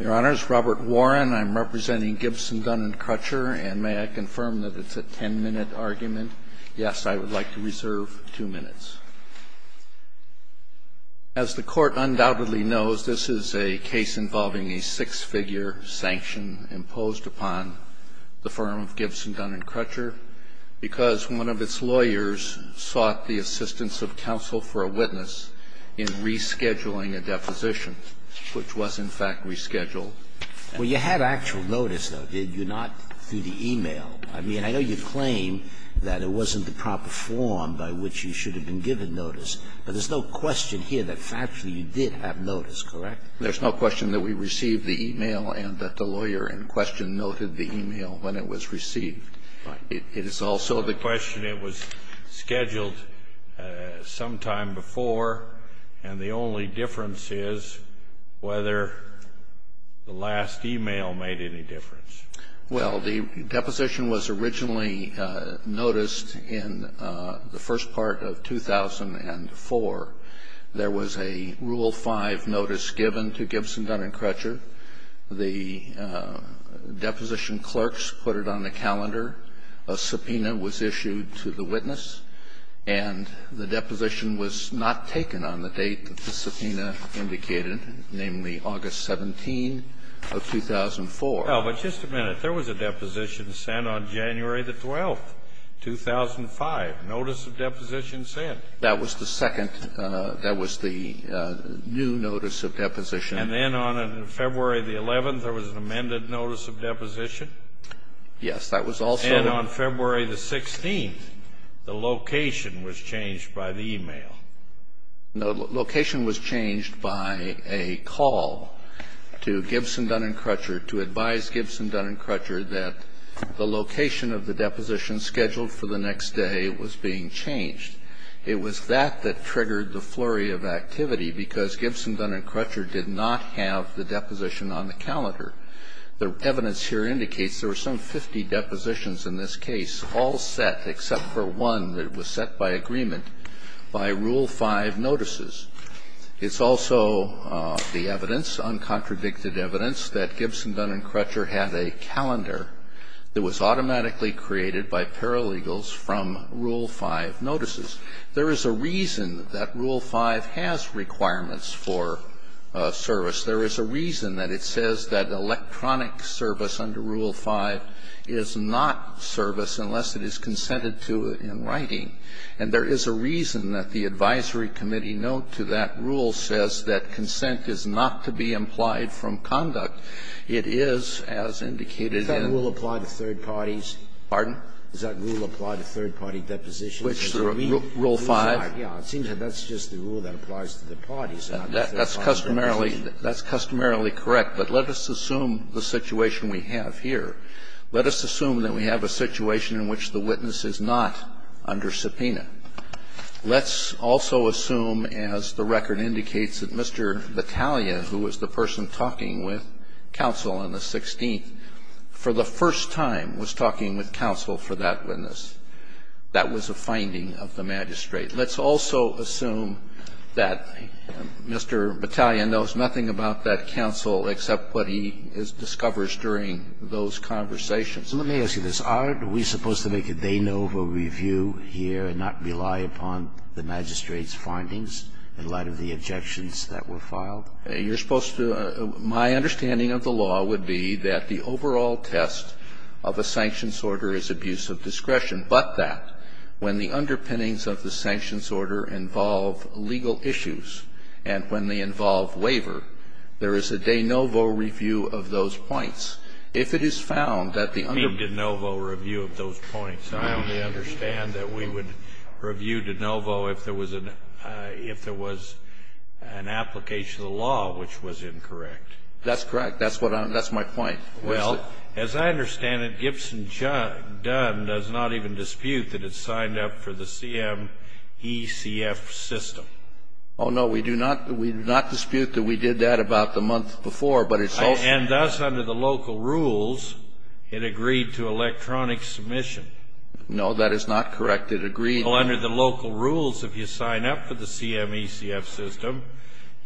Your Honors, Robert Warren. I'm representing Gibson, Dunn & Crutcher. And may I confirm that it's a ten-minute argument? Yes, I would like to reserve two minutes. As the Court undoubtedly knows, this is a case involving a six-figure sanction imposed upon the firm of Gibson, Dunn & Crutcher because one of its lawyers sought the assistance of counsel for a witness in rescheduling a deposition, which was in fact rescheduled. Well, you had actual notice, though, did you not, through the e-mail? I mean, I know you claim that it wasn't the proper form by which you should have been given notice, but there's no question here that factually you did have notice, correct? There's no question that we received the e-mail and that the lawyer in question noted the e-mail when it was received. Right. It is also the question it was scheduled sometime before, and the only difference is whether the last e-mail made any difference. Well, the deposition was originally noticed in the first part of 2004. There was a Rule 5 notice given to Gibson, Dunn & Crutcher. The deposition clerks put it on the calendar. A subpoena was issued to the witness, and the deposition was not taken on the date that the subpoena indicated, namely August 17 of 2004. Well, but just a minute. There was a deposition sent on January the 12th, 2005, notice of deposition sent. That was the second. That was the new notice of deposition. And then on February the 11th, there was an amended notice of deposition. Yes. That was also. And on February the 16th, the location was changed by the e-mail. No, the location was changed by a call to Gibson, Dunn & Crutcher to advise Gibson, Dunn & Crutcher that the location of the deposition scheduled for the next day was being changed. It was that that triggered the flurry of activity, because Gibson, Dunn & Crutcher did not have the deposition on the calendar. The evidence here indicates there were some 50 depositions in this case, all set except for one that was set by agreement by Rule 5 notices. It's also the evidence, uncontradicted evidence, that Gibson, Dunn & Crutcher had a calendar that was automatically created by paralegals from Rule 5 notices. There is a reason that Rule 5 has requirements for service. There is a reason that it says that electronic service under Rule 5 is not service unless it is consented to in writing. And there is a reason that the advisory committee note to that rule says that consent is not to be implied from conduct. It is, as indicated in. Sotomayor, is that rule applied to third parties? Pardon? Does that rule apply to third-party depositions? Rule 5? Yes. It seems that that's just the rule that applies to the parties. That's customarily correct. But let us assume the situation we have here. Let us assume that we have a situation in which the witness is not under subpoena. Let's also assume, as the record indicates, that Mr. Battaglia, who was the person talking with counsel on the 16th, for the first time was talking with counsel for that witness. That was a finding of the magistrate. Let's also assume that Mr. Battaglia knows nothing about that counsel except what he discovers during those conversations. Let me ask you this. Are we supposed to make a de novo review here and not rely upon the magistrate's findings in light of the objections that were filed? You're supposed to my understanding of the law would be that the overall test of a sanctions order is abuse of discretion, but that when the underpinnings of the sanctions order involve legal issues and when they involve waiver, there is a de novo review of those points. and when they involve waiver, there is a de novo review of those points. I only understand that we would review de novo if there was an application of the law which was incorrect. That's correct. That's my point. Well, as I understand it, Gibson-Dunn does not even dispute that it signed up for the CMECF system. Oh, no, we do not dispute that we did that about the month before, but it's also And thus under the local rules, it agreed to electronic submission. No, that is not correct. It agreed. Well, under the local rules, if you sign up for the CMECF system,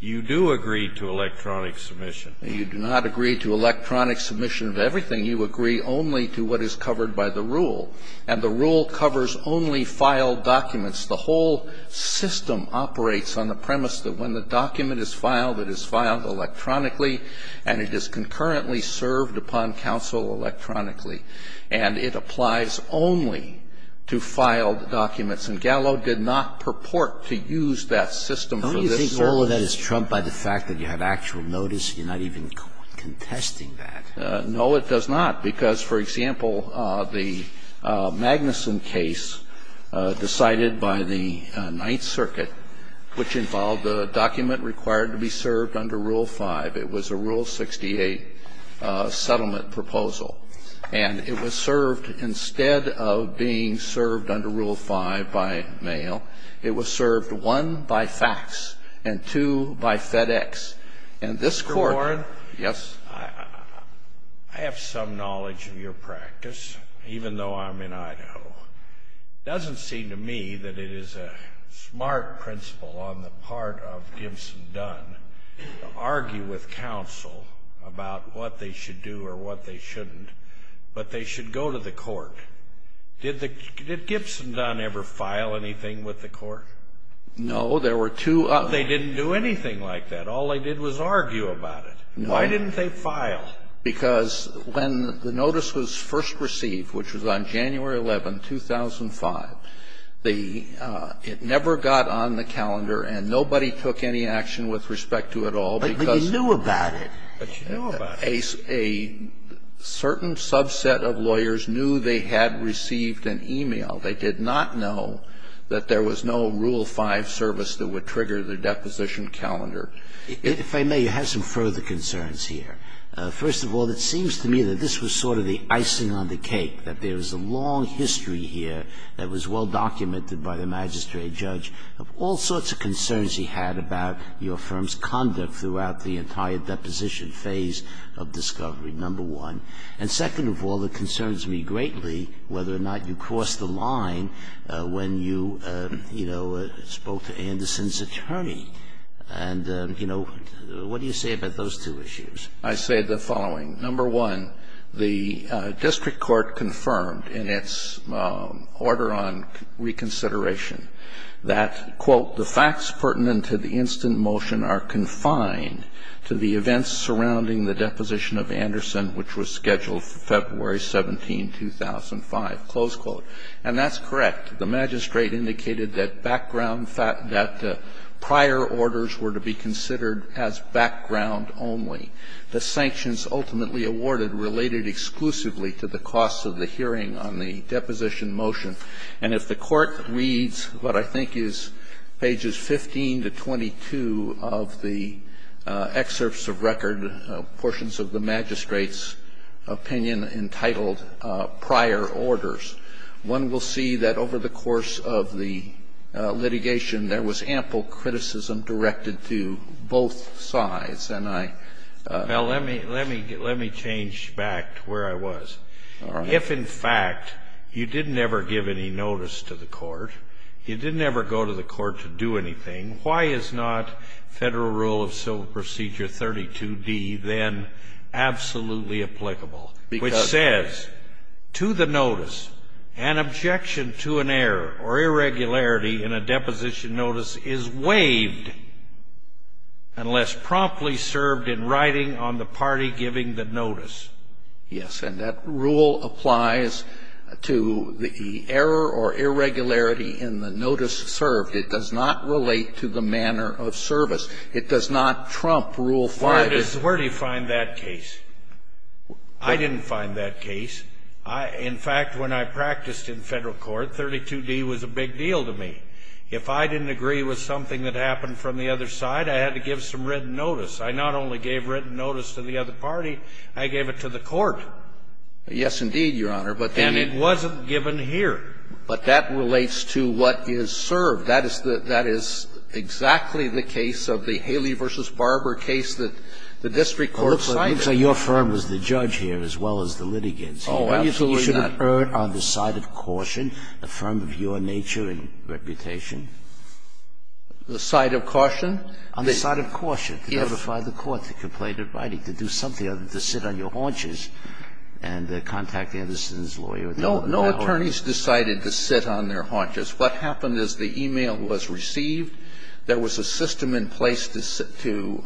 you do agree to electronic submission. You do not agree to electronic submission of everything. You agree only to what is covered by the rule. And the rule covers only filed documents. And it is concurrently served upon counsel electronically. And it applies only to filed documents. And Gallo did not purport to use that system for this purpose. Don't you think all of that is trumped by the fact that you have actual notice and you're not even contesting that? No, it does not. Because, for example, the Magnuson case decided by the Ninth Circuit, which involved the document required to be served under Rule 5. It was a Rule 68 settlement proposal. And it was served, instead of being served under Rule 5 by mail, it was served, one, by fax, and two, by FedEx. And this Court ---- Mr. Warren? Yes. I have some knowledge of your practice, even though I'm in Idaho. It doesn't seem to me that it is a smart principle on the part of Gibson-Dunn to argue with counsel about what they should do or what they shouldn't, but they should go to the Court. Did the ---- did Gibson-Dunn ever file anything with the Court? No. There were two ---- But they didn't do anything like that. All they did was argue about it. No. Why didn't they file? Because when the notice was first received, which was on January 11, 2005, the ---- it never got on the calendar, and nobody took any action with respect to it at all because ---- But you knew about it. But you knew about it. A certain subset of lawyers knew they had received an e-mail. They did not know that there was no Rule 5 service that would trigger the deposition calendar. If I may, you have some further concerns here. First of all, it seems to me that this was sort of the icing on the cake, that there is a long history here that was well documented by the magistrate judge of all sorts of concerns he had about your firm's conduct throughout the entire deposition phase of discovery, number one. And second of all, it concerns me greatly whether or not you crossed the line when you, you know, spoke to Anderson's attorney. And, you know, what do you say about those two issues? I say the following. Number one, the district court confirmed in its order on reconsideration that, quote, the facts pertinent to the instant motion are confined to the events surrounding the deposition of Anderson, which was scheduled for February 17, 2005, close quote. And that's correct. The magistrate indicated that background, that prior orders were to be considered as background only. The sanctions ultimately awarded related exclusively to the cost of the hearing on the deposition motion. And if the Court reads what I think is pages 15 to 22 of the excerpts of record, portions of the magistrate's opinion entitled Prior Orders, one will see that over the course of the litigation there was ample criticism directed to both sides. And I ---- Well, let me change back to where I was. All right. If, in fact, you didn't ever give any notice to the Court, you didn't ever go to the Court to do anything, why is not Federal Rule of Civil Procedure 32d then absolutely applicable, which says to the notice, an objection to an error or irregularity in a deposition notice is waived unless promptly served in writing on the party giving the notice? Yes. And that rule applies to the error or irregularity in the notice served. It does not relate to the manner of service. It does not trump Rule 5. Where do you find that case? I didn't find that case. In fact, when I practiced in Federal Court, 32d was a big deal to me. If I didn't agree with something that happened from the other side, I had to give some written notice. I not only gave written notice to the other party, I gave it to the Court. Yes, indeed, Your Honor. And it wasn't given here. But that relates to what is served. That is the – that is exactly the case of the Haley v. Barber case that the district court decided. Well, it looks like your firm was the judge here as well as the litigants. Oh, absolutely not. You should have erred on the side of caution, a firm of your nature and reputation. The side of caution? On the side of caution, to notify the Court to complain in writing, to do something other than to sit on your haunches and contact Anderson's lawyer. No attorneys decided to sit on their haunches. What happened is the e-mail was received. There was a system in place to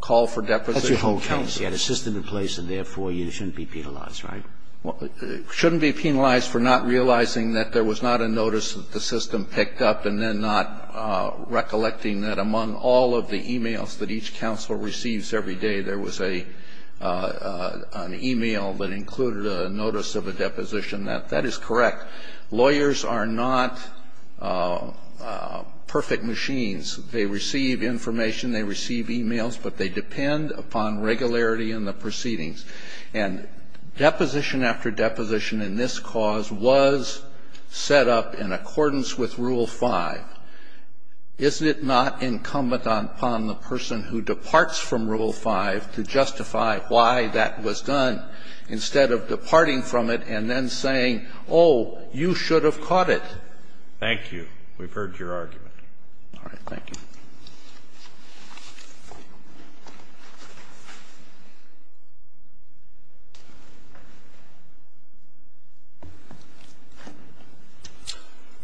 call for deposition. That's your whole case. You had a system in place, and therefore you shouldn't be penalized, right? Well, shouldn't be penalized for not realizing that there was not a notice that the system picked up and then not recollecting that among all of the e-mails that each counsel receives every day, there was an e-mail that included a notice of a deposition. That is correct. Lawyers are not perfect machines. They receive information, they receive e-mails, but they depend upon regularity in the proceedings. And deposition after deposition in this cause was set up in accordance with Rule 5. Isn't it not incumbent upon the person who departs from Rule 5 to justify why that was done, instead of departing from it and then saying, oh, you should have caught it? Thank you. We've heard your argument. All right. Thank you.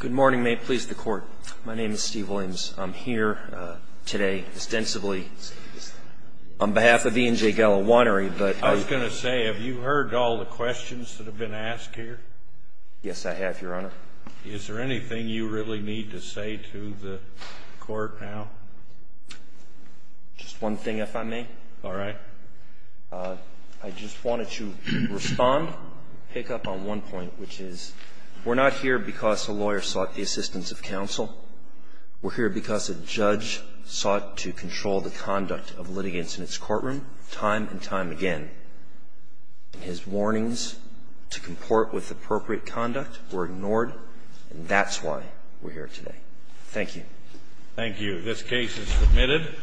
Good morning. May it please the Court. My name is Steve Williams. I'm here today extensively on behalf of E&J Galawannery, but I'm going to say, have you heard all the questions that have been asked here? Yes, I have, Your Honor. Is there anything you really need to say to the Court now? Just one thing, if I may. All right. I just wanted to respond, pick up on one point, which is we're not here because a lawyer sought the assistance of counsel. We're here because a judge sought to control the conduct of litigants in its courtroom time and time again. His warnings to comport with appropriate conduct were ignored, and that's why we're here today. Thank you. Thank you. This case is submitted.